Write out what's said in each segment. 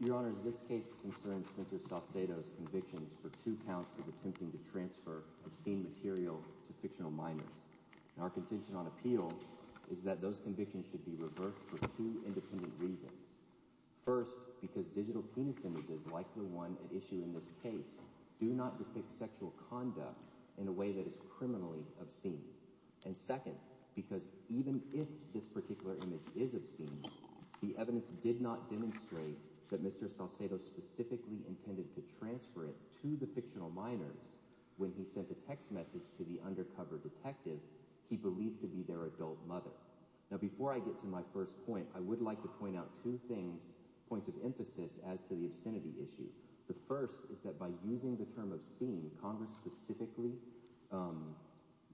Your Honor, this case concerns Spencer Salcedo's convictions for two counts of attempting to transfer obscene material to fictional minors. Our contention on appeal is that those convictions should be reversed for two independent reasons. First, because digital penis images like the one at issue in this case do not depict sexual conduct in a way that is criminally obscene. And second, because even if this particular image is obscene, the evidence did not demonstrate that Mr. Salcedo specifically intended to transfer it to the fictional minors when he sent a text message to the undercover detective he believed to be their adult mother. Now before I get to my first point, I would like to point out two things, points of emphasis as to the obscenity issue. The first is that by using the term obscene, Congress specifically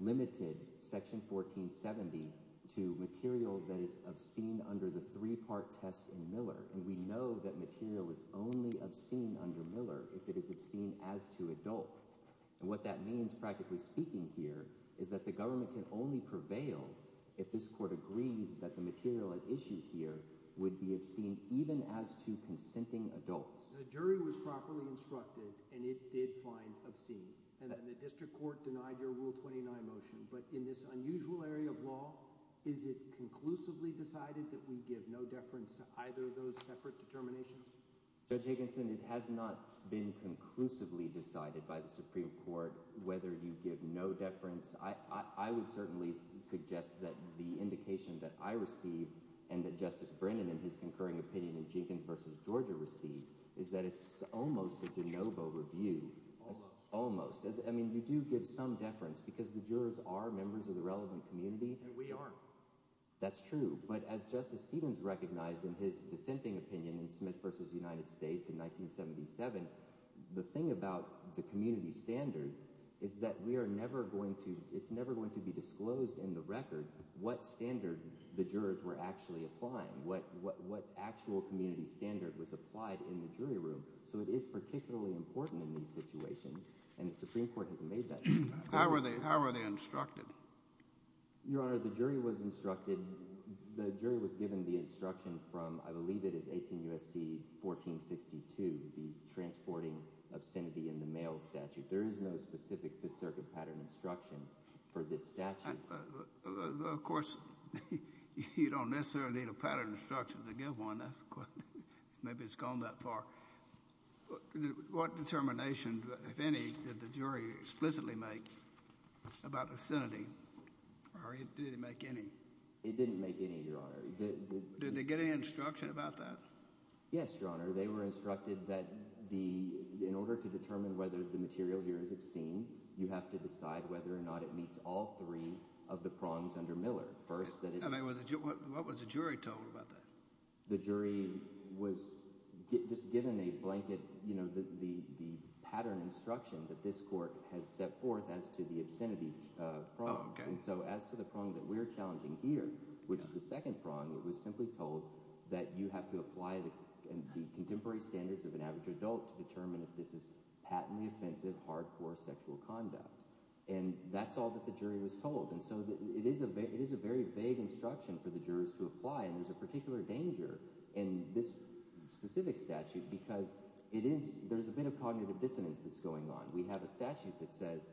limited Section 1470 to material that is obscene under the three part test in Miller. And we know that material is only obscene under Miller if it is obscene as to adults. And what that means, practically speaking here, is that the government can only prevail if this court agrees that the material at issue here would be obscene even as to consenting adults. The jury was properly instructed and it did find obscene and the district court denied your Rule 29 motion. But in this unusual area of law, is it conclusively decided that we give no deference to either of those separate determinations? Judge Higginson, it has not been conclusively decided by the Supreme Court whether you give no deference. I would certainly suggest that the indication that I receive and that Justice Brennan in his concurring opinion in Jenkins v. Georgia received is that it's almost a de novo review. Almost. I mean, you do give some deference because the jurors are members of the relevant community. And we aren't. That's true. But as Justice Stevens recognized in his dissenting opinion in Smith v. United States in 1977, the thing about the community standard is that we are never going to it's never going to be disclosed in the record what standard the jurors were actually applying, what what what actual community standard was applied in the jury room. So it is particularly important in these situations. And the Supreme Court has made that. How are they? How are they instructed? Your Honor, the jury was instructed, the jury was given the instruction from, I believe it is 18 U.S.C. 1462, the transporting obscenity in the mail statute. There is no specific Fifth Circuit pattern instruction for this statute. Of course, you don't necessarily need a pattern instruction to get one. Maybe it's gone that far. But what determination, if any, did the jury explicitly make about obscenity or did it make any? It didn't make any, Your Honor. Did they get any instruction about that? Yes, Your Honor. They were instructed that the in order to determine whether the material here is obscene, you have to decide whether or not it meets all three of the prongs under Miller. First, that was what was the jury told about that? The jury was just given a blanket, you know, the pattern instruction that this court has set forth as to the obscenity prongs. And so as to the prong that we're challenging here, which is the second prong, it was simply told that you have to apply the contemporary standards of an average adult to determine if this is patently offensive, hardcore sexual conduct. And that's all that the jury was told. And so it is a it is a very vague instruction for the jurors to apply. And there's a particular danger in this specific statute because it is there's a bit of cognitive dissonance that's going on. We have a statute that says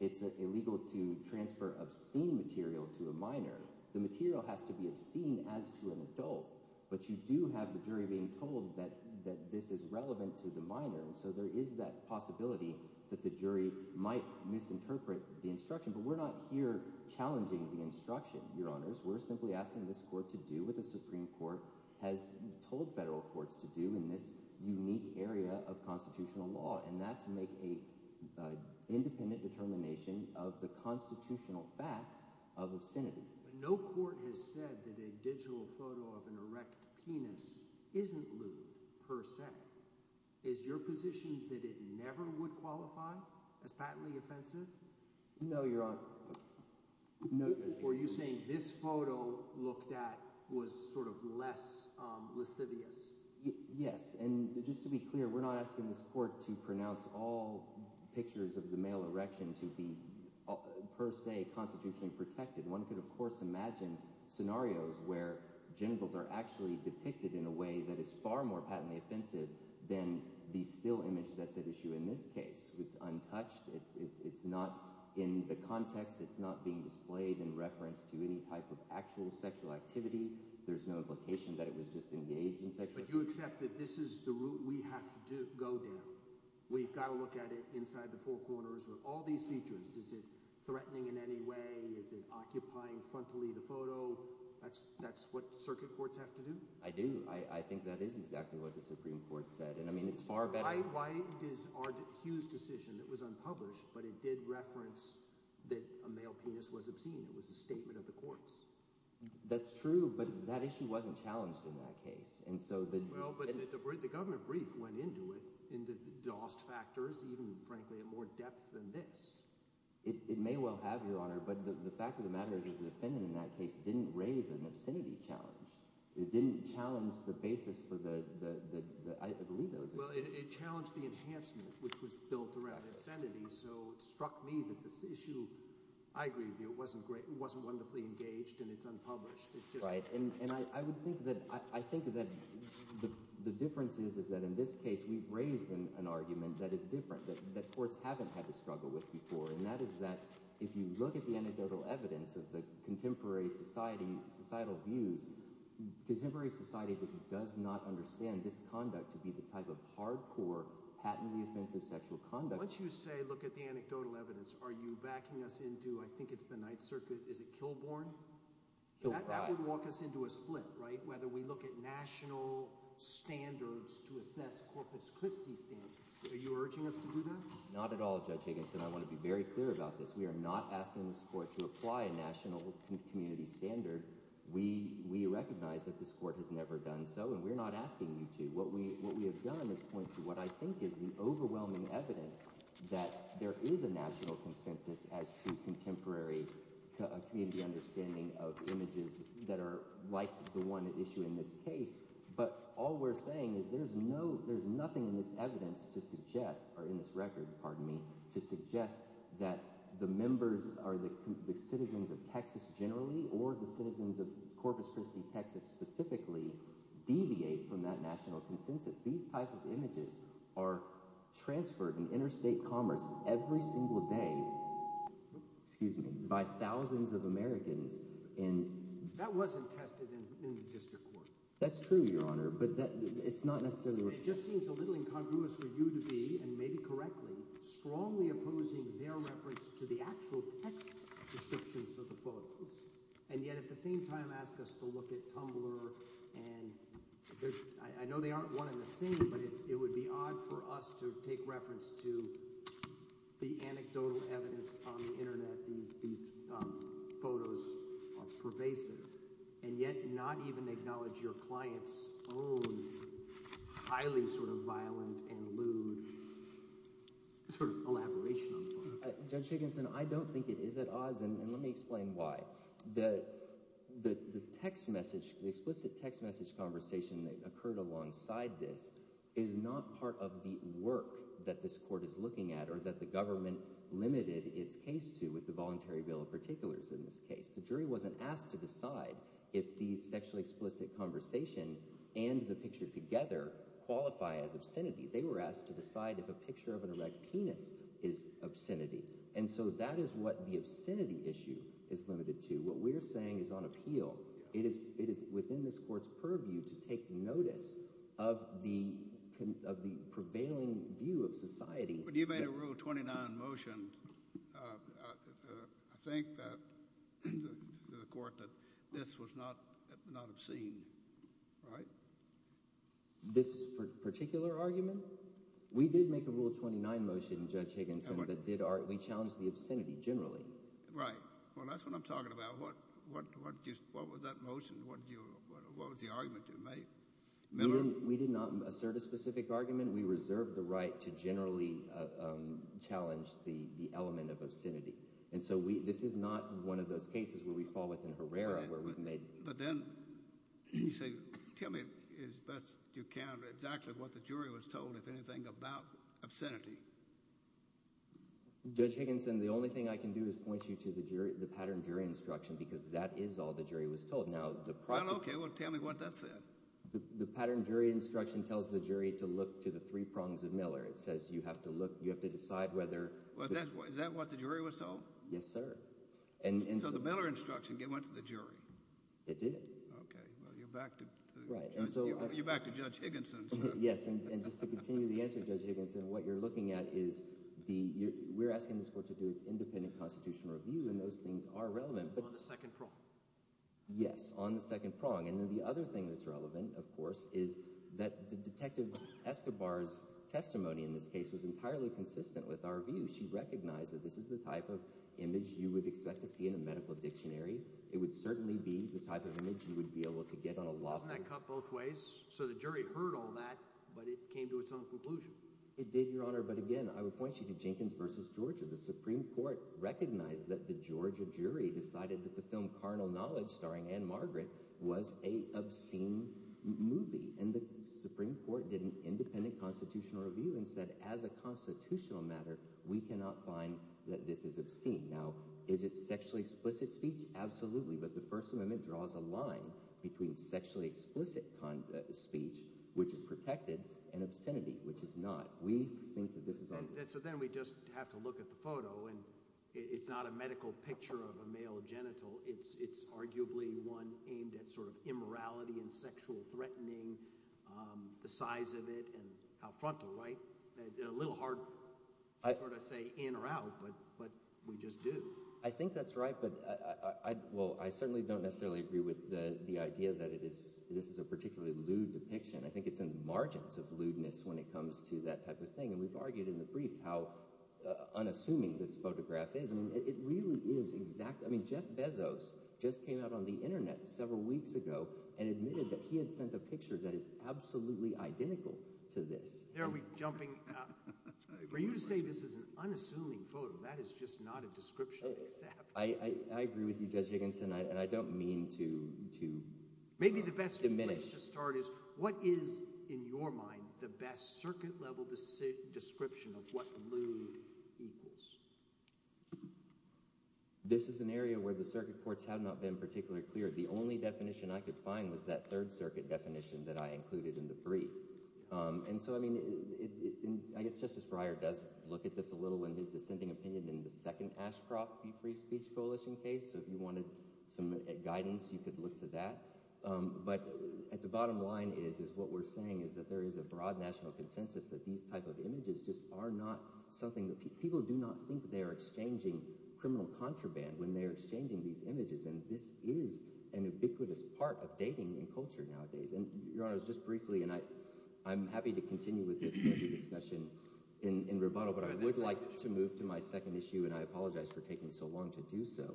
it's illegal to transfer obscene material to a minor. The material has to be obscene as to an adult. But you do have the jury being told that that this is relevant to the minor. And so there is that possibility that the jury might misinterpret the instruction. But we're not here challenging the instruction, your honors. We're simply asking this court to do what the Supreme Court has told federal courts to do in this unique area of constitutional law. And that's make a independent determination of the constitutional fact of obscenity. No court has said that a digital photo of an erect penis isn't per se. Is your position that it never would qualify as patently offensive? No, your honor. Were you saying this photo looked at was sort of less lascivious? Yes. And just to be clear, we're not asking this court to pronounce all pictures of the male erection to be per se constitutionally protected. One could, of course, imagine scenarios where genitals are actually depicted in a way that is far more patently offensive than the still image that's at issue in this case. It's untouched. It's not in the context. It's not being displayed in reference to any type of actual sexual activity. There's no implication that it was just engaged in sexual. But you accept that this is the route we have to go down. We've got to look at it inside the four corners with all these features. Is it threatening in any way? Is it occupying frontally the photo? That's that's what circuit courts have to do. I do. I think that is exactly what the Supreme Court said. And I mean, it's far better. Why is our huge decision that was unpublished, but it did reference that a male penis was obscene? It was a statement of the courts. That's true. But that issue wasn't challenged in that case. And so the governor brief went into it into the lost factors, even, frankly, a more depth than this. It may well have, your honor. But the fact of the matter is that the defendant in that case didn't raise an obscenity challenge. It didn't challenge the basis for the I believe those. Well, it challenged the enhancement which was built around obscenity. So it struck me that this issue, I agree, it wasn't great. It wasn't wonderfully engaged and it's unpublished. Right. And I would think that I think that the difference is, is that in this case, we've raised an argument that is different, that courts haven't had to struggle with before. And that is that if you look at the anecdotal evidence of the contemporary society, societal views, contemporary society just does not understand this conduct to be the type of hard core, patently offensive sexual conduct. Once you say, look at the anecdotal evidence, are you backing us into I think it's the Ninth Circuit? Is it Kilbourn? So that would walk us into a split, right? Whether we look at national standards to assess Corpus Christi standards, are you urging us to do that? Not at all, Judge Higginson, I want to be very clear about this. We are not asking this court to apply a national community standard. We we recognize that this court has never done so. And we're not asking you to. What we what we have done is point to what I think is the overwhelming evidence that there is a national consensus as to contemporary community understanding of images that are like the one issue in this case. But all we're saying is there's no there's nothing in this evidence to suggest or in this record, pardon me, to suggest that the members are the citizens of Texas generally or the citizens of Corpus Christi, Texas specifically deviate from that national consensus. These type of images are transferred in interstate commerce every single day, excuse me, by thousands of Americans. And that wasn't tested in the district court. That's true, Your Honor, but it's not necessarily just seems a little incongruous for you to be, and maybe correctly, strongly opposing their reference to the actual text descriptions of the photos. And yet at the same time, ask us to look at Tumblr and I know they aren't one in the same, but it would be odd for us to take reference to the anecdotal evidence on the Internet. These photos are pervasive and yet not even acknowledge your client's own highly sort of violent and lewd sort of elaboration. Judge Higginson, I don't think it is at odds. And let me explain why. The text message, the explicit text message conversation that occurred alongside this is not part of the work that this court is looking at or that the government limited its case to with the voluntary bill of particulars. In this case, the jury wasn't asked to decide if the sexually explicit conversation and the picture together qualify as obscenity. They were asked to decide if a picture of an erect penis is obscenity. And so that is what the obscenity issue is limited to. What we're saying is on appeal. It is within this court's purview to take notice of the prevailing view of society. When you made a Rule 29 motion, I think that the court that this was not obscene, right? This particular argument? We did make a Rule 29 motion, Judge Higginson, that did. We challenged the obscenity generally. Right. Well, that's what I'm talking about. What was that motion? What was the argument you made? We did not assert a specific argument. We reserved the right to generally challenge the element of obscenity. And so this is not one of those cases where we fall within Herrera where we've made. But then you say, tell me as best you can exactly what the jury was told, if anything, about obscenity. Judge Higginson, the only thing I can do is point you to the jury, the pattern jury instruction, because that is all the jury was told. Now, the process. Okay. Well, tell me what that said. The pattern jury instruction tells the jury to look to the three prongs of Miller. It says you have to look, you have to decide whether. Well, is that what the jury was told? Yes, sir. And so the Miller instruction went to the jury. It did. Okay. Well, you're back to Judge Higginson. Yes. And just to continue the answer, Judge Higginson, what you're looking at is the, we're asking this court to do its independent constitutional review. And those things are relevant. But on the second prong. Yes, on the second prong. And then the other thing that's relevant, of course, is that Detective Escobar's testimony in this case was entirely consistent with our view. She recognized that this is the type of image you would expect to see in a medical dictionary. It would certainly be the type of image you would be able to get on a law. Wasn't that cut both ways? So the jury heard all that, but it came to its own conclusion. It did, Your Honor. But again, I would point you to Jenkins v. Georgia. The Supreme Court recognized that the Georgia jury decided that the film Carnal Knowledge, starring Anne Margaret, was a obscene movie. And the Supreme Court did an independent constitutional review and said, as a constitutional matter, we cannot find that this is obscene. Now, is it sexually explicit speech? Absolutely. But the First Amendment draws a line between sexually explicit speech, which is protected, and obscenity, which is not. We think that this is. So then we just have to look at the photo, and it's not a medical picture of a male genital. It's arguably one aimed at sort of immorality and sexual threatening, the size of it and how frontal, right? A little hard to say in or out, but we just do. I think that's right. But I, well, I certainly don't necessarily agree with the idea that it is this is a particularly lewd depiction. I think it's in the margins of lewdness when it comes to that type of thing. And we've argued in the brief how unassuming this photograph is. I mean, it really is exact. I mean, Jeff Bezos just came out on the Internet several weeks ago and admitted that he had sent a picture that is absolutely identical to this. There we jumping. For you to say this is an unassuming photo, that is just not a description. I agree with you, Judge Higginson, and I don't mean to to. Maybe the best minute to start is what is in your mind the best circuit level description of what lewd equals? This is an area where the circuit courts have not been particularly clear. The only definition I could find was that third circuit definition that I included in the brief. And so, I mean, I guess Justice Breyer does look at this a little in his dissenting opinion in the second Ashcroft Free Speech Coalition case. So if you wanted some guidance, you could look to that. But at the bottom line is is what we're saying is that there is a broad national consensus that these type of images just are not something that people do not think they're exchanging criminal contraband when they're exchanging these images. And this is an ubiquitous part of dating in culture nowadays. And your honor, just briefly, and I I'm happy to continue with the discussion in rebuttal, but I would like to move to my second issue. And I apologize for taking so long to do so.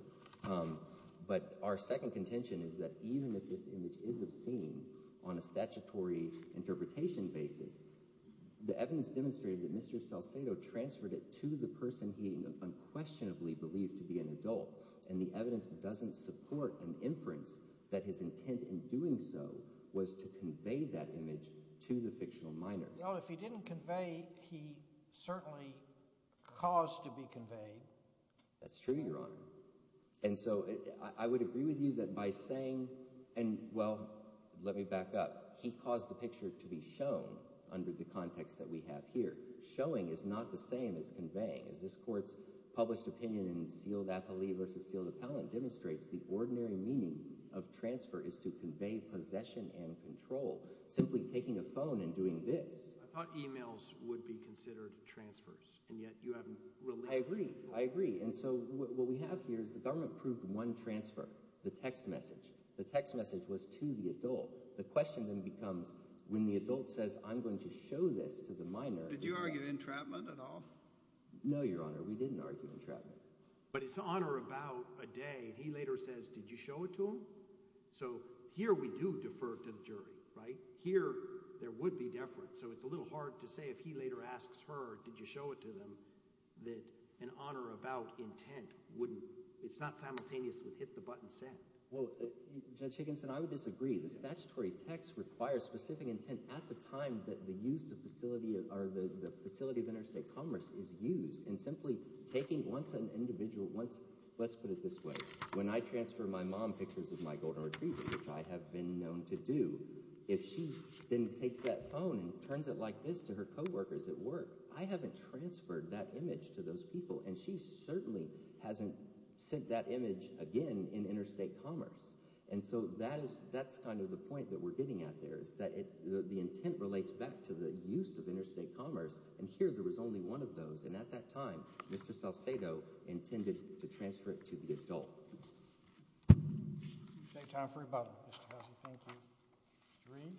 But our second contention is that even if this image is obscene on a statutory interpretation basis, the evidence demonstrated that Mr. Salcedo transferred it to the person he unquestionably believed to be an adult. And the evidence doesn't support an inference that his intent in doing so was to convey that image to the fictional minor. If he didn't convey, he certainly caused to be conveyed. That's true, your honor. And so I would agree with you that by saying, and well, let me back up, he caused the picture to be shown under the context that we have here. Showing is not the same as conveying. As this court's published opinion in Sealed Appellee versus Sealed Appellant demonstrates, the ordinary meaning of transfer is to convey possession and control. Simply taking a phone and doing this. I thought emails would be considered transfers. And yet you haven't really. I agree. I agree. And so what we have here is the government proved one transfer, the text message. The text message was to the adult. The question then becomes when the adult says, I'm going to show this to the minor. Did you argue entrapment at all? No, your honor. We didn't argue entrapment. But it's honor about a day. He later says, did you show it to him? So here we do defer to the jury. Right here. There would be different. So it's a little hard to say if he later asks her, did you show it to them? That an honor about intent wouldn't. It's not simultaneous with hit the button set. Well, Judge Higginson, I would disagree. The statutory text requires specific intent at the time that the use of facility or the facility of interstate commerce is used. And simply taking once an individual once. Let's put it this way. When I transfer my mom pictures of my golden retriever, which I have been known to do. If she then takes that phone and turns it like this to her co-workers at work, I haven't transferred that image to those people. And she certainly hasn't sent that image again in interstate commerce. And so that is that's kind of the point that we're getting at there is that the intent relates back to the use of interstate commerce. And here there was only one of those. And at that time, Mr. Salcedo intended to transfer it to the adult. Take time for about. Drain.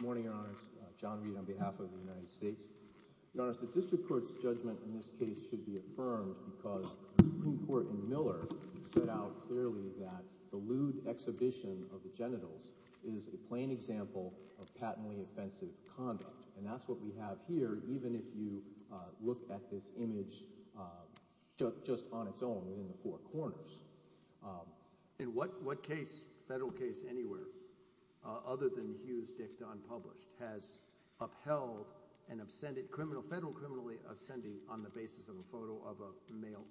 Morning, your honor's John Reid, on behalf of the United States, the district court's judgment in this case should be affirmed because the Supreme Court in Miller set out clearly that the lewd exhibition of the genitals is a plain example of patently offensive conduct. And that's what we have here. Even if you look at this image just on its own in the four corners in what what case federal case anywhere other than Hughes Dick Don published has upheld an absented criminal federal criminally absentee on the basis of a photo of a male.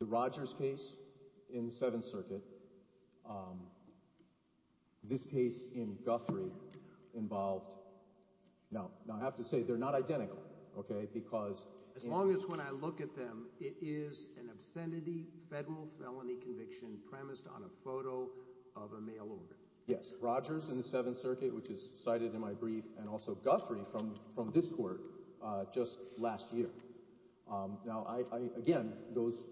The Rogers case in Seventh Circuit. This case in Guthrie involved now, I have to say they're not identical, OK, because as long as when I look at them, it is an obscenity federal felony conviction premised on a photo of a male. Yes, Rogers in the Seventh Circuit, which is cited in my brief and also Guthrie from from this court just last year. Now, I again, those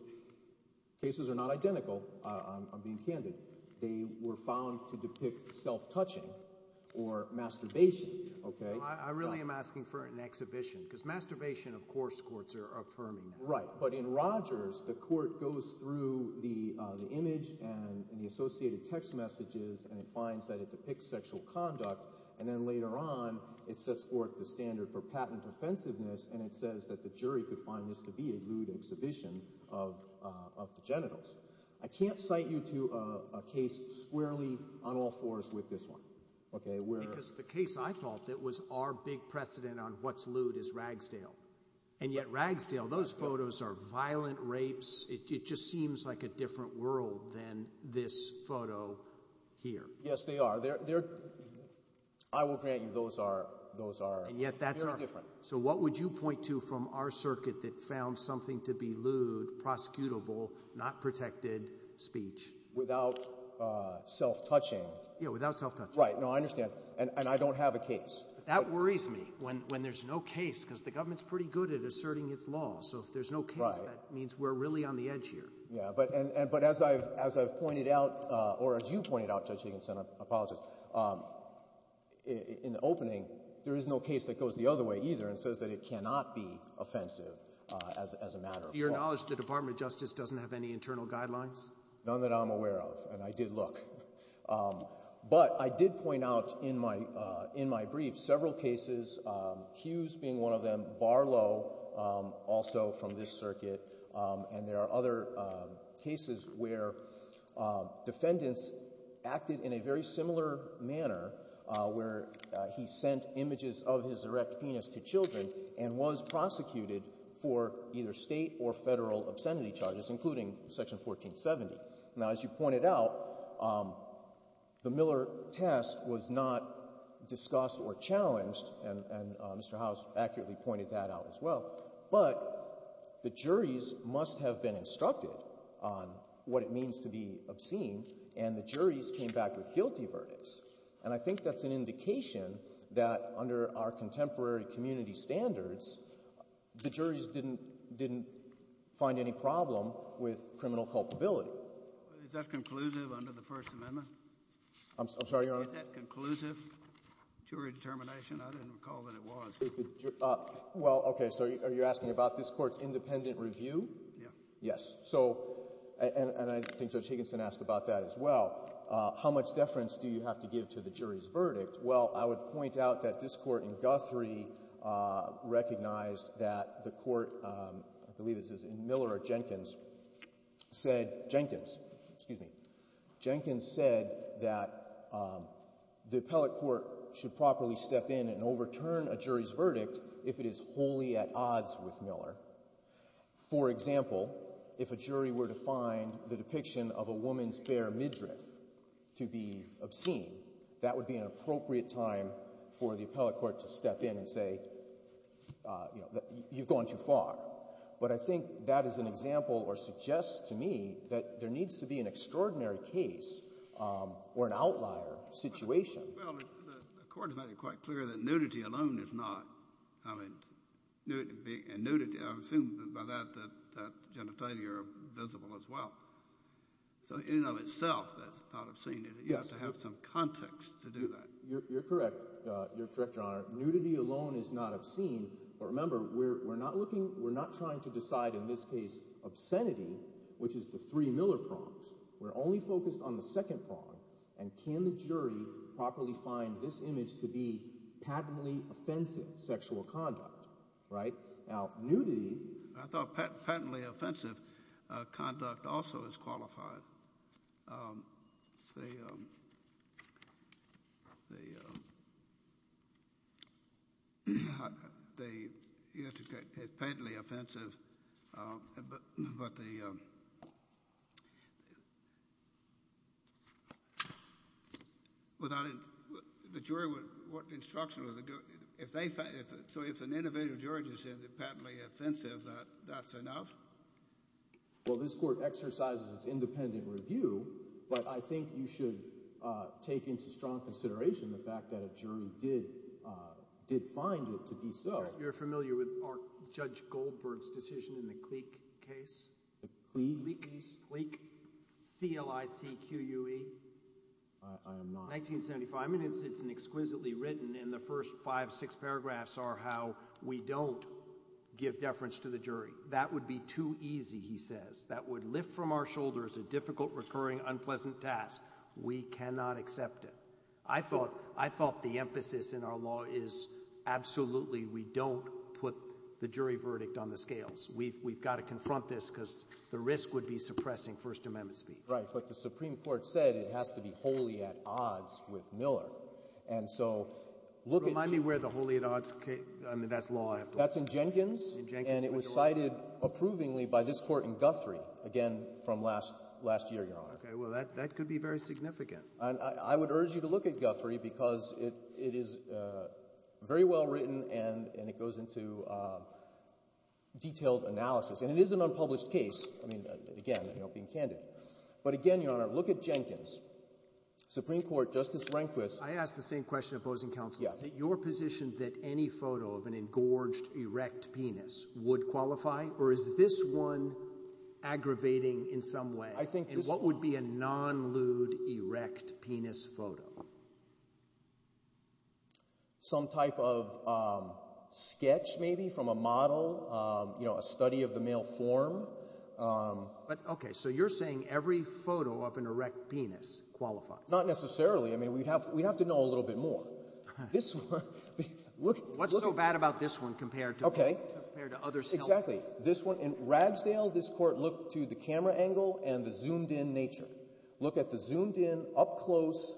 cases are not identical. I'm being candid. They were found to depict self-touching or masturbation. OK, I really am asking for an exhibition because masturbation, of course, courts are affirming. Right. But in Rogers, the court goes through the image and the associated text messages and it finds that it depicts sexual conduct. And then later on, it sets forth the standard for patent offensiveness. And it says that the jury could find this to be a lewd exhibition of of the genitals. I can't cite you to a case squarely on all fours with this one. OK, because the case I thought that was our big precedent on what's lewd is Ragsdale. And yet Ragsdale, those photos are violent rapes. It just seems like a different world than this photo here. Yes, they are. They're I will grant you those are those are. And yet that's different. So what would you point to from our circuit that found something to be lewd, prosecutable, not protected speech without self-touching? Yeah, without self-touch. Right. No, I understand. And I don't have a case. That worries me when when there's no case, because the government's pretty good at asserting its law. So if there's no case, that means we're really on the edge here. Yeah. But and but as I've as I've pointed out, or as you pointed out, Judge Higginson, I apologize. In the opening, there is no case that goes the other way either and says that it cannot be offensive as a matter of your knowledge. The Department of Justice doesn't have any internal guidelines. None that I'm aware of. And I did look. But I did point out in my in my brief several cases, Hughes being one of them, Barlow also from this circuit. And there are other cases where defendants acted in a very similar manner where he sent images of his erect penis to children and was prosecuted for either state or federal obscenity charges, including Section 1470. Now, as you pointed out, the Miller test was not discussed or challenged. And Mr. House accurately pointed that out as well. But the juries must have been instructed on what it means to be obscene. And the juries came back with guilty verdicts. And I think that's an indication that under our contemporary community standards, the juries didn't didn't find any problem with criminal culpability. Is that conclusive under the First Amendment? I'm sorry, Your Honor. Is that conclusive jury determination? I didn't recall that it was. Is the. Well, OK. So are you asking about this court's independent review? Yeah. Yes. So and I think Judge Higginson asked about that as well. How much deference do you have to give to the jury's verdict? Well, I would point out that this court in Guthrie recognized that the court, I believe this is in Miller or Jenkins, said Jenkins, excuse me. The appellate court should properly step in and overturn a jury's verdict if it is wholly at odds with Miller. For example, if a jury were to find the depiction of a woman's bare midriff to be obscene, that would be an appropriate time for the appellate court to step in and say, you've gone too far. But I think that is an example or suggests to me that there needs to be an extraordinary case or an outlier situation. Well, the court has made it quite clear that nudity alone is not, I mean, nudity and nudity, I assume by that, that genitalia are visible as well. So in and of itself, that's not obscene, you have to have some context to do that. You're correct. You're correct, Your Honor. Nudity alone is not obscene. But remember, we're not looking, we're not trying to decide in this case obscenity, which is the three Miller prongs. We're only focused on the second prong. And can the jury properly find this image to be patently offensive sexual conduct? Right now, nudity, I thought patently offensive conduct also is qualified. It's patently offensive, but the jury, what instruction will they do? So if an innovative jury just says it's patently offensive, that's enough? Well, this court exercises its independent review, but I think you should take into strong consideration the fact that a jury did find it to be so. You're familiar with Judge Goldberg's decision in the Cleek case? The Cleek? Cleek, C-L-I-C-Q-U-E. I am not. 1975 minutes, it's an exquisitely written, and the first five, six paragraphs are how we don't give deference to the jury. That would be too easy, he says. That would lift from our shoulders a difficult, recurring, unpleasant task. We cannot accept it. I thought, I thought the emphasis in our law is absolutely, we don't put the jury verdict on the scales. We've got to confront this because the risk would be suppressing First Amendment speed. Right. But the Supreme Court said it has to be wholly at odds with Miller. And so look at... Remind me where the wholly at odds, I mean, that's law. That's in Jenkins, and it was cited approvingly by this Court in Guthrie, again, from last year, Your Honor. Okay, well, that could be very significant. And I would urge you to look at Guthrie because it is very well written, and it goes into detailed analysis. And it is an unpublished case. I mean, again, you know, being candid. But again, Your Honor, look at Jenkins. Supreme Court, Justice Rehnquist. I ask the same question of opposing counsel. Yes. Is it your position that any photo of an engorged erect penis would qualify, or is this one aggravating in some way? I think this... And what would be a non-lewd erect penis photo? Some type of sketch, maybe, from a model, you know, a study of the male form. But, okay, so you're saying every photo of an erect penis qualifies? Not necessarily. I mean, we'd have to know a little bit more. This one, look... What's so bad about this one compared to other selfies? Exactly. This one, in Ragsdale, this Court looked to the camera angle and the zoomed-in nature. Look at the zoomed-in, up close,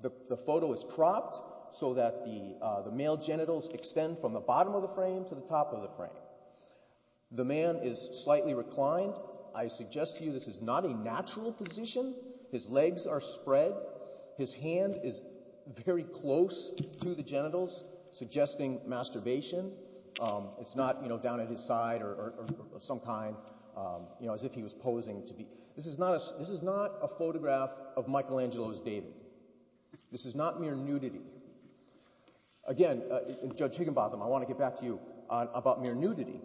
the photo is cropped so that the male genitals extend from the bottom of the frame to the top of the frame. The man is slightly reclined. I suggest to you this is not a natural position. His legs are spread. His hand is very close to the genitals, suggesting masturbation. It's not, you know, down at his side or of some kind, you know, as if he was posing to be... This is not a photograph of Michelangelo's dating. This is not mere nudity. Again, Judge Higginbotham, I want to get back to you about mere nudity,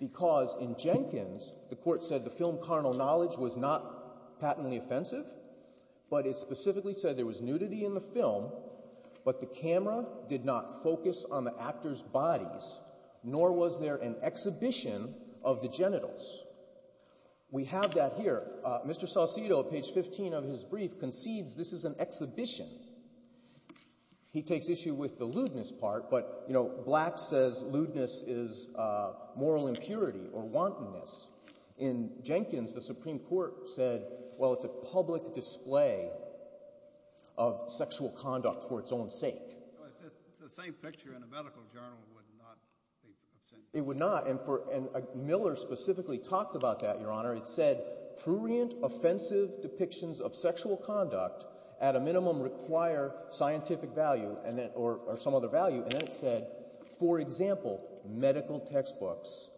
because in Jenkins, the Court said the film, Carnal Knowledge, was not patently offensive. But it specifically said there was nudity in the film, but the camera did not focus on the actor's bodies, nor was there an exhibition of the genitals. We have that here. Mr. Saucedo, at page 15 of his brief, concedes this is an exhibition. He takes issue with the lewdness part, but, you know, Black says lewdness is moral impurity or wantonness. In Jenkins, the Supreme Court said, well, it's a public display of sexual conduct for its own sake. The same picture in a medical journal would not be... It would not. And Miller specifically talked about that, Your Honor. It said prurient, offensive depictions of sexual conduct at a minimum require scientific value or some other value. And it said, for example, medical textbooks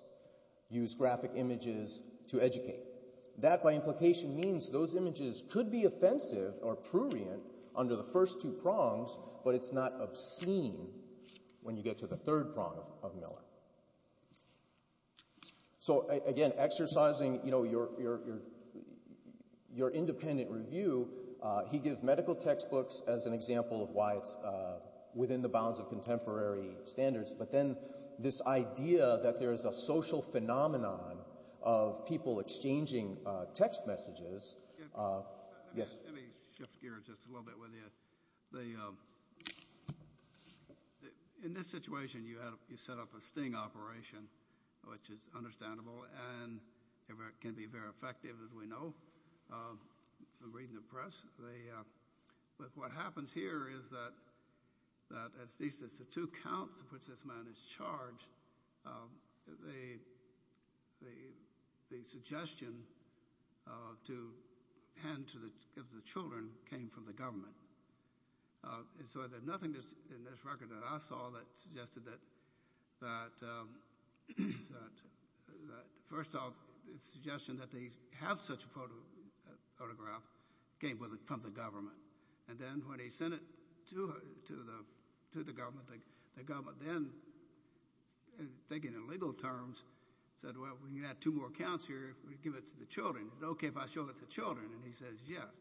use graphic images to educate. That, by implication, means those images could be offensive or prurient under the first two prongs, but it's not obscene when you get to the third prong of Miller. So, again, exercising, you know, your independent review, he gives medical textbooks as an example of why it's within the bounds of contemporary standards. But then this idea that there's a social phenomenon of people exchanging text messages... Let me shift gears just a little bit with you. So, in this situation, you set up a sting operation, which is understandable and can be very effective, as we know from reading the press. But what happens here is that, at least it's the two counts of which this man is charged, the suggestion to hand to the children came from the government. And so there's nothing in this record that I saw that suggested that, first off, the suggestion that they have such a photograph came from the government. And then when they sent it to the government, the government then, thinking in legal terms, said, well, when you add two more counts here, we give it to the children. It's okay if I show it to the children. And he says, yes.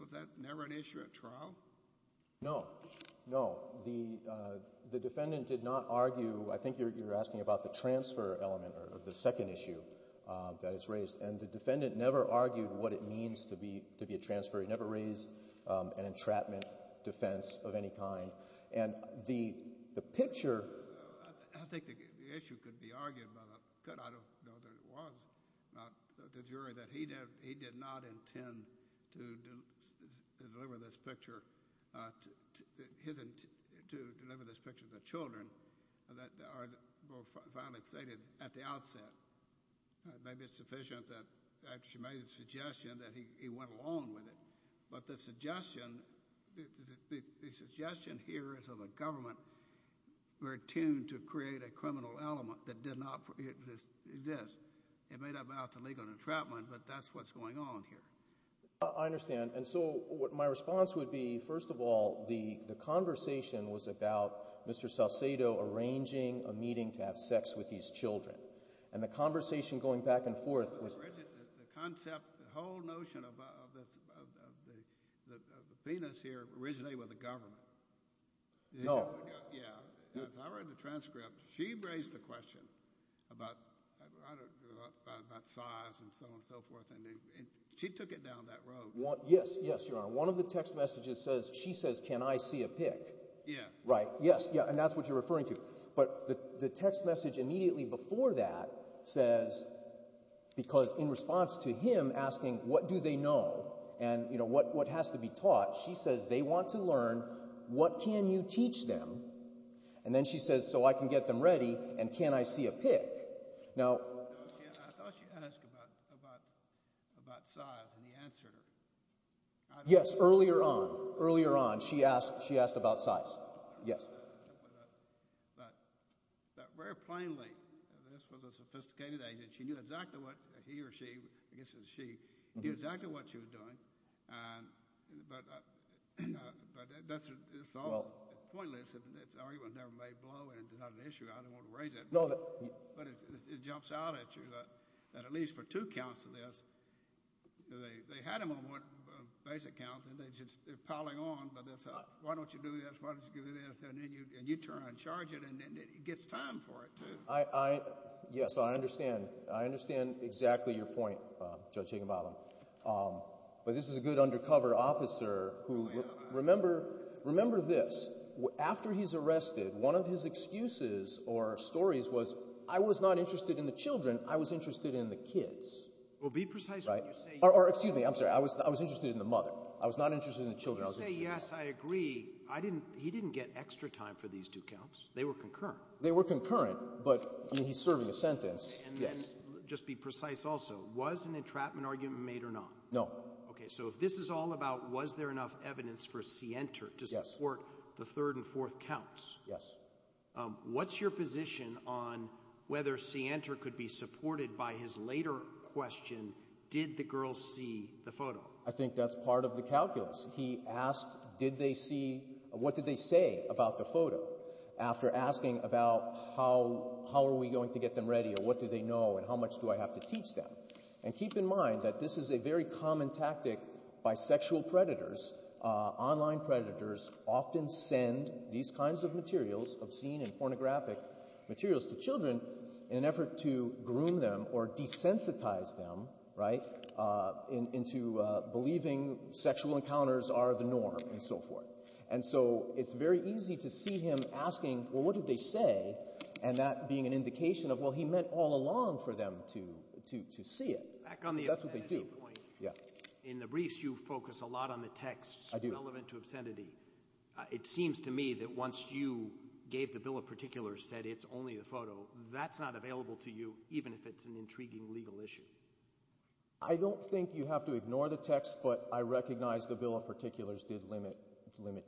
Was that never an issue at trial? No, no. The defendant did not argue. I think you're asking about the transfer element or the second issue that is raised. And the defendant never argued what it means to be a transfer. He never raised an entrapment defense of any kind. I think the issue could be argued by the judge. I don't know that it was. The jury that he did not intend to deliver this picture to the children were finally stated at the outset. Maybe it's sufficient that after she made the suggestion that he went along with it. But the suggestion here is that the government were attuned to create a criminal element that did not exist. It may not have been out to legal entrapment, but that's what's going on here. I understand. And so my response would be, first of all, the conversation was about Mr. Salcedo arranging a meeting to have sex with these children. And the conversation going back and forth was— The concept, the whole notion of the penis here originated with the government. No. Yeah. I read the transcript. She raised the question about size and so on and so forth, and she took it down that road. Yes, yes, Your Honor. One of the text messages says—she says, can I see a pic? Yeah. Right. Yes, yeah, and that's what you're referring to. But the text message immediately before that says—because in response to him asking what do they know and what has to be taught, she says they want to learn what can you teach them. And then she says, so I can get them ready, and can I see a pic? Now— I thought she asked about size and he answered her. Yes, earlier on, earlier on, she asked about size. Yes. But very plainly, this was a sophisticated agent. She knew exactly what he or she—I guess it was she—knew exactly what she was doing. But that's all pointless. That argument never made blow, and it's not an issue. I don't want to raise it. But it jumps out at you that at least for two counts of this, they had him on one basic count, and they're piling on, but they'll say, why don't you do this, why don't you do this, and then you turn around and charge it, and it gets time for it, too. Yes, I understand. I understand exactly your point, Judge Higginbottom. But this is a good undercover officer who—remember this. After he's arrested, one of his excuses or stories was, I was not interested in the children. I was interested in the kids. Well, be precise when you say— Excuse me. I'm sorry. I was interested in the mother. I was not interested in the children. When you say yes, I agree. He didn't get extra time for these two counts. They were concurrent. They were concurrent, but he's serving a sentence. Yes. Just be precise also. Was an entrapment argument made or not? No. Okay. So if this is all about was there enough evidence for Sienter to support the third and fourth counts— Yes. What's your position on whether Sienter could be supported by his later question, did the girls see the photo? I think that's part of the calculus. He asked, did they see—what did they say about the photo after asking about how are we going to get them ready or what do they know and how much do I have to teach them? And keep in mind that this is a very common tactic by sexual predators. Online predators often send these kinds of materials, obscene and pornographic materials to children in an effort to groom them or desensitize them, right, into believing sexual encounters are the norm and so forth. And so it's very easy to see him asking, well, what did they say, and that being an indication of, well, he meant all along for them to see it. Back on the affinity point. That's what they do. Yeah. In the briefs, you focus a lot on the texts— I do. —relevant to obscenity. It seems to me that once you gave the bill of particulars, said it's only the photo, that's not available to you even if it's an intriguing legal issue. I don't think you have to ignore the text, but I recognize the bill of particulars did limit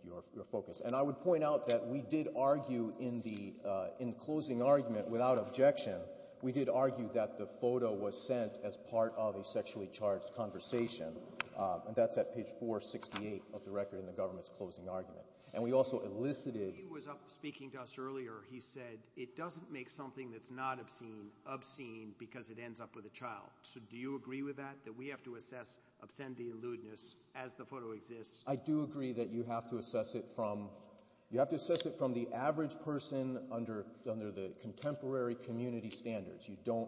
your focus. And I would point out that we did argue in the closing argument without objection, we did argue that the photo was sent as part of a sexually charged conversation, and that's at page 468 of the record in the government's closing argument. And we also elicited— He was speaking to us earlier. He said it doesn't make something that's not obscene obscene because it ends up with a child. So do you agree with that, that we have to assess obscenity and lewdness as the photo exists? I do agree that you have to assess it from— You don't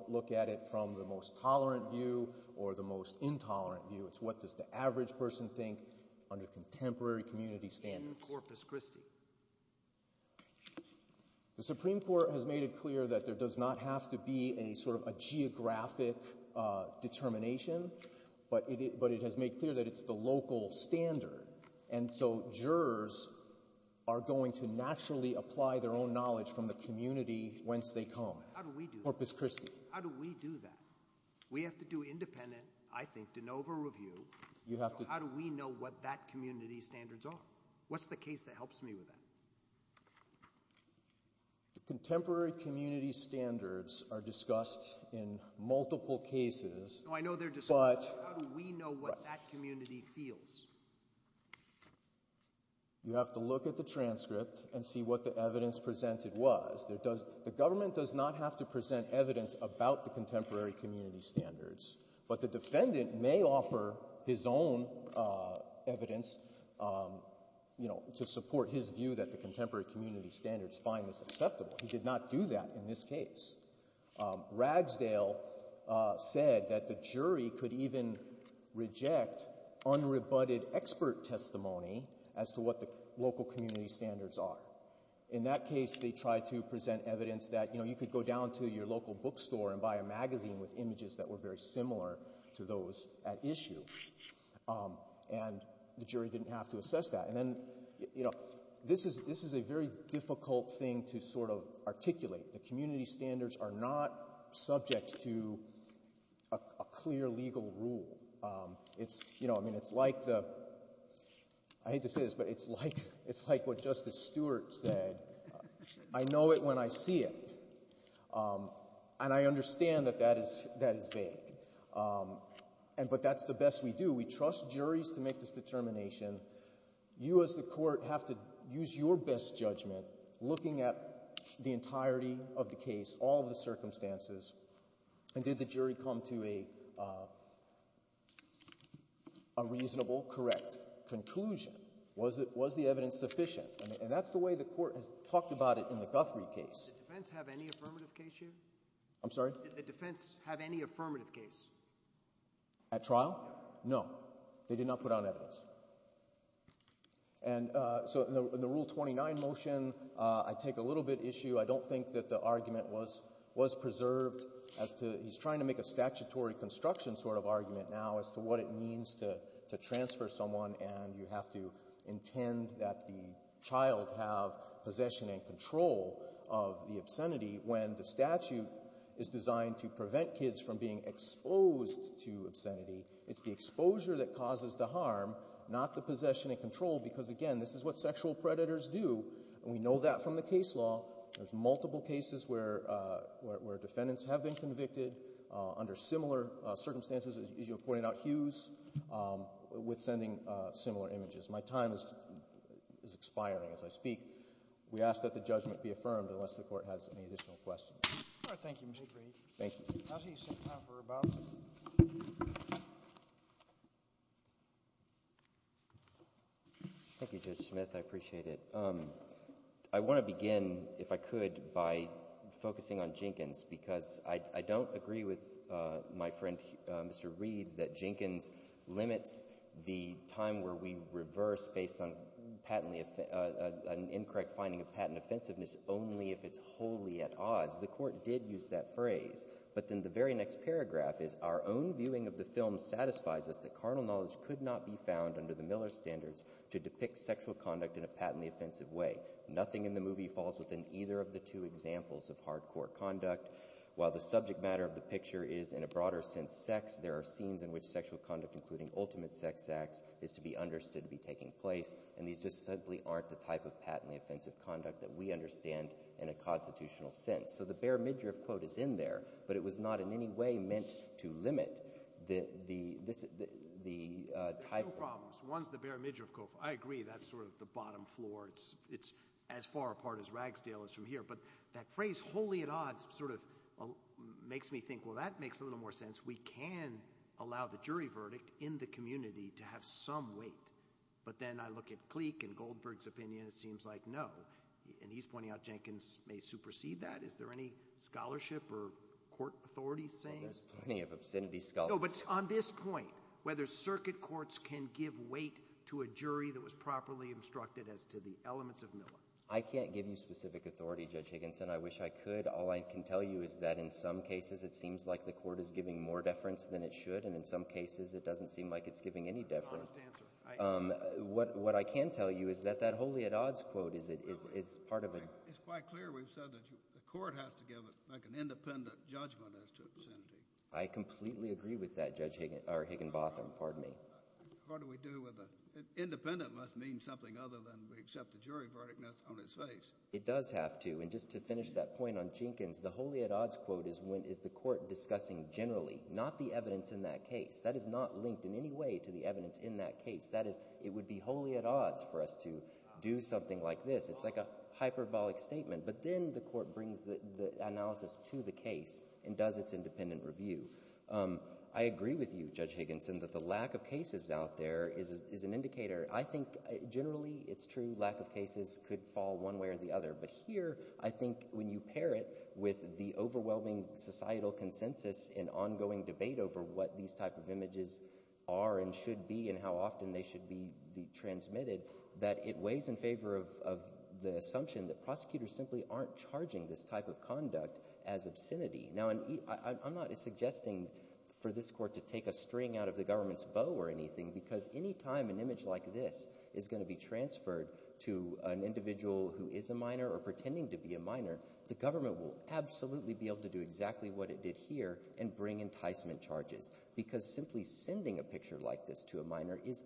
look at it from the most tolerant view or the most intolerant view. It's what does the average person think under contemporary community standards. In Corpus Christi. The Supreme Court has made it clear that there does not have to be any sort of a geographic determination, but it has made clear that it's the local standard. And so jurors are going to naturally apply their own knowledge from the community whence they come. How do we do that? Corpus Christi. How do we do that? We have to do independent, I think, de novo review. How do we know what that community's standards are? What's the case that helps me with that? Contemporary community standards are discussed in multiple cases, but— No, I know they're discussed. How do we know what that community feels? You have to look at the transcript and see what the evidence presented was. The government does not have to present evidence about the contemporary community standards, but the defendant may offer his own evidence to support his view that the contemporary community standards find this acceptable. He did not do that in this case. Ragsdale said that the jury could even reject unrebutted expert testimony as to what the local community standards are. In that case, they tried to present evidence that you could go down to your local bookstore and buy a magazine with images that were very similar to those at issue, and the jury didn't have to assess that. This is a very difficult thing to sort of articulate. The community standards are not subject to a clear legal rule. It's like the—I hate to say this, but it's like what Justice Stewart said, I know it when I see it, and I understand that that is vague, but that's the best we do. We trust juries to make this determination. You as the court have to use your best judgment looking at the entirety of the case, all of the circumstances, and did the jury come to a reasonable, correct conclusion? Was the evidence sufficient? And that's the way the court has talked about it in the Guthrie case. Did the defense have any affirmative case here? I'm sorry? Did the defense have any affirmative case? At trial? No. No. They did not put out evidence. And so in the Rule 29 motion, I take a little bit issue. I don't think that the argument was preserved as to—he's trying to make a statutory construction sort of argument now as to what it means to transfer someone, and you have to intend that the child have possession and control of the obscenity when the statute is designed to prevent kids from being exposed to obscenity. It's the exposure that causes the harm, not the possession and control, because, again, this is what sexual predators do, and we know that from the case law. There's multiple cases where defendants have been convicted under similar circumstances, as you have pointed out, Hughes, with sending similar images. My time is expiring as I speak. We ask that the judgment be affirmed unless the court has any additional questions. All right. Thank you, Mr. Grady. Thank you. Counsel, you still have time for rebuttals? Thank you, Judge Smith. I appreciate it. I want to begin, if I could, by focusing on Jenkins because I don't agree with my friend Mr. Reed that Jenkins limits the time where we reverse based on an incorrect finding of patent offensiveness only if it's wholly at odds. The court did use that phrase, but then the very next paragraph is, our own viewing of the film satisfies us that carnal knowledge could not be found under the Miller standards to depict sexual conduct in a patently offensive way. Nothing in the movie falls within either of the two examples of hardcore conduct. While the subject matter of the picture is, in a broader sense, sex, there are scenes in which sexual conduct, including ultimate sex acts, is to be understood to be taking place, and these just simply aren't the type of patently offensive conduct that we understand in a constitutional sense. So the Behr midriff quote is in there, but it was not in any way meant to limit the type of No problems. One's the Behr midriff quote. I agree that's sort of the bottom floor. It's as far apart as Ragsdale is from here. But that phrase, wholly at odds, sort of makes me think, well, that makes a little more sense. We can allow the jury verdict in the community to have some weight. But then I look at Clique and Goldberg's opinion. It seems like, no, and he's pointing out Jenkins may supersede that. Is there any scholarship or court authority saying? There's plenty of obscenity scholarship. No, but on this point, whether circuit courts can give weight to a jury that was properly instructed as to the elements of Milla. I can't give you specific authority, Judge Higginson. I wish I could. All I can tell you is that in some cases it seems like the court is giving more deference than it should, and in some cases it doesn't seem like it's giving any deference. What I can tell you is that that wholly at odds quote is part of it. It's quite clear we've said that the court has to give it like an independent judgment as to obscenity. I completely agree with that, Judge Higginbotham. Pardon me. What do we do with it? Independent must mean something other than we accept the jury verdict and that's on its face. It does have to, and just to finish that point on Jenkins, the wholly at odds quote is the court discussing generally, not the evidence in that case. That is not linked in any way to the evidence in that case. That is, it would be wholly at odds for us to do something like this. It's like a hyperbolic statement. But then the court brings the analysis to the case and does its independent review. I agree with you, Judge Higginson, that the lack of cases out there is an indicator. I think generally it's true lack of cases could fall one way or the other, but here I think when you pair it with the overwhelming societal consensus and ongoing debate over what these type of images are and should be and how often they should be transmitted that it weighs in favor of the assumption that prosecutors simply aren't charging this type of conduct as obscenity. Now, I'm not suggesting for this court to take a string out of the government's bow or anything because any time an image like this is going to be transferred to an individual who is a minor or pretending to be a minor, the government will absolutely be able to do exactly what it did here and bring enticement charges. Because simply sending a picture like this to a minor is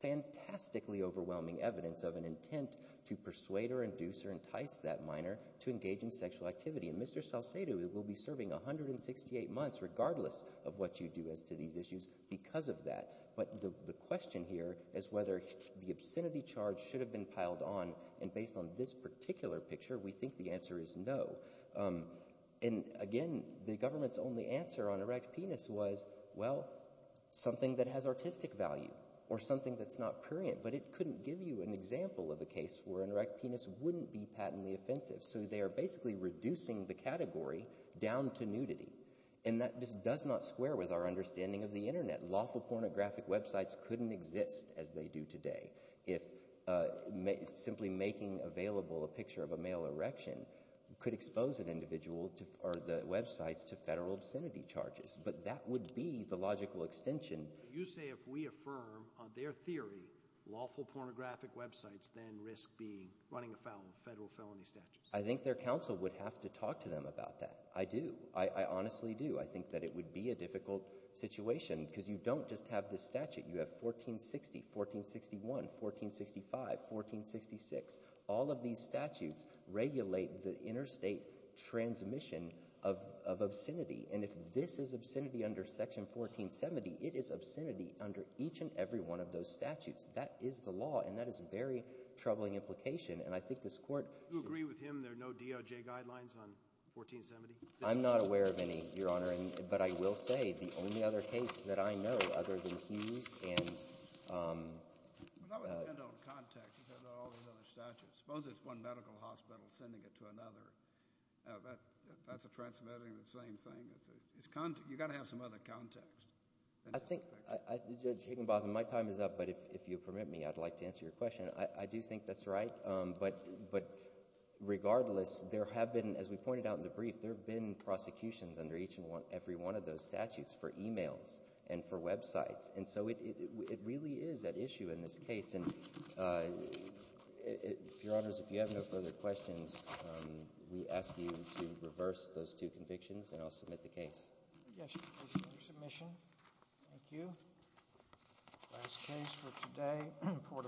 fantastically overwhelming evidence of an intent to persuade or induce or entice that minor to engage in sexual activity. And Mr. Salcedo will be serving 168 months regardless of what you do as to these issues because of that. But the question here is whether the obscenity charge should have been piled on. And based on this particular picture, we think the answer is no. And again, the government's only answer on erect penis was, well, something that has artistic value or something that's not prurient. But it couldn't give you an example of a case where an erect penis wouldn't be patently offensive. So they are basically reducing the category down to nudity. And that just does not square with our understanding of the internet. Lawful pornographic websites couldn't exist as they do today if simply making available a picture of a male erection could expose an individual or the websites to federal obscenity charges. But that would be the logical extension. You say if we affirm on their theory lawful pornographic websites then risk running afoul of federal felony statutes. I think their counsel would have to talk to them about that. I do. I honestly do. I think that it would be a difficult situation because you don't just have this statute. You have 1460, 1461, 1465, 1466. All of these statutes regulate the interstate transmission of obscenity. And if this is obscenity under Section 1470, it is obscenity under each and every one of those statutes. That is the law, and that is a very troubling implication. And I think this court— Do you agree with him there are no DOJ guidelines on 1470? I'm not aware of any, Your Honor. But I will say the only other case that I know other than Hughes and— That would depend on context because of all these other statutes. Suppose it's one medical hospital sending it to another. That's a transmitting of the same thing. You've got to have some other context. Judge Higginbotham, my time is up, but if you'll permit me, I'd like to answer your question. I do think that's right. But regardless, there have been, as we pointed out in the brief, there have been prosecutions under each and every one of those statutes for e-mails and for websites. And so it really is at issue in this case. And, Your Honors, if you have no further questions, we ask you to reverse those two convictions, and I'll submit the case. Yes, Your Honor. Submission. Thank you. Last case for today.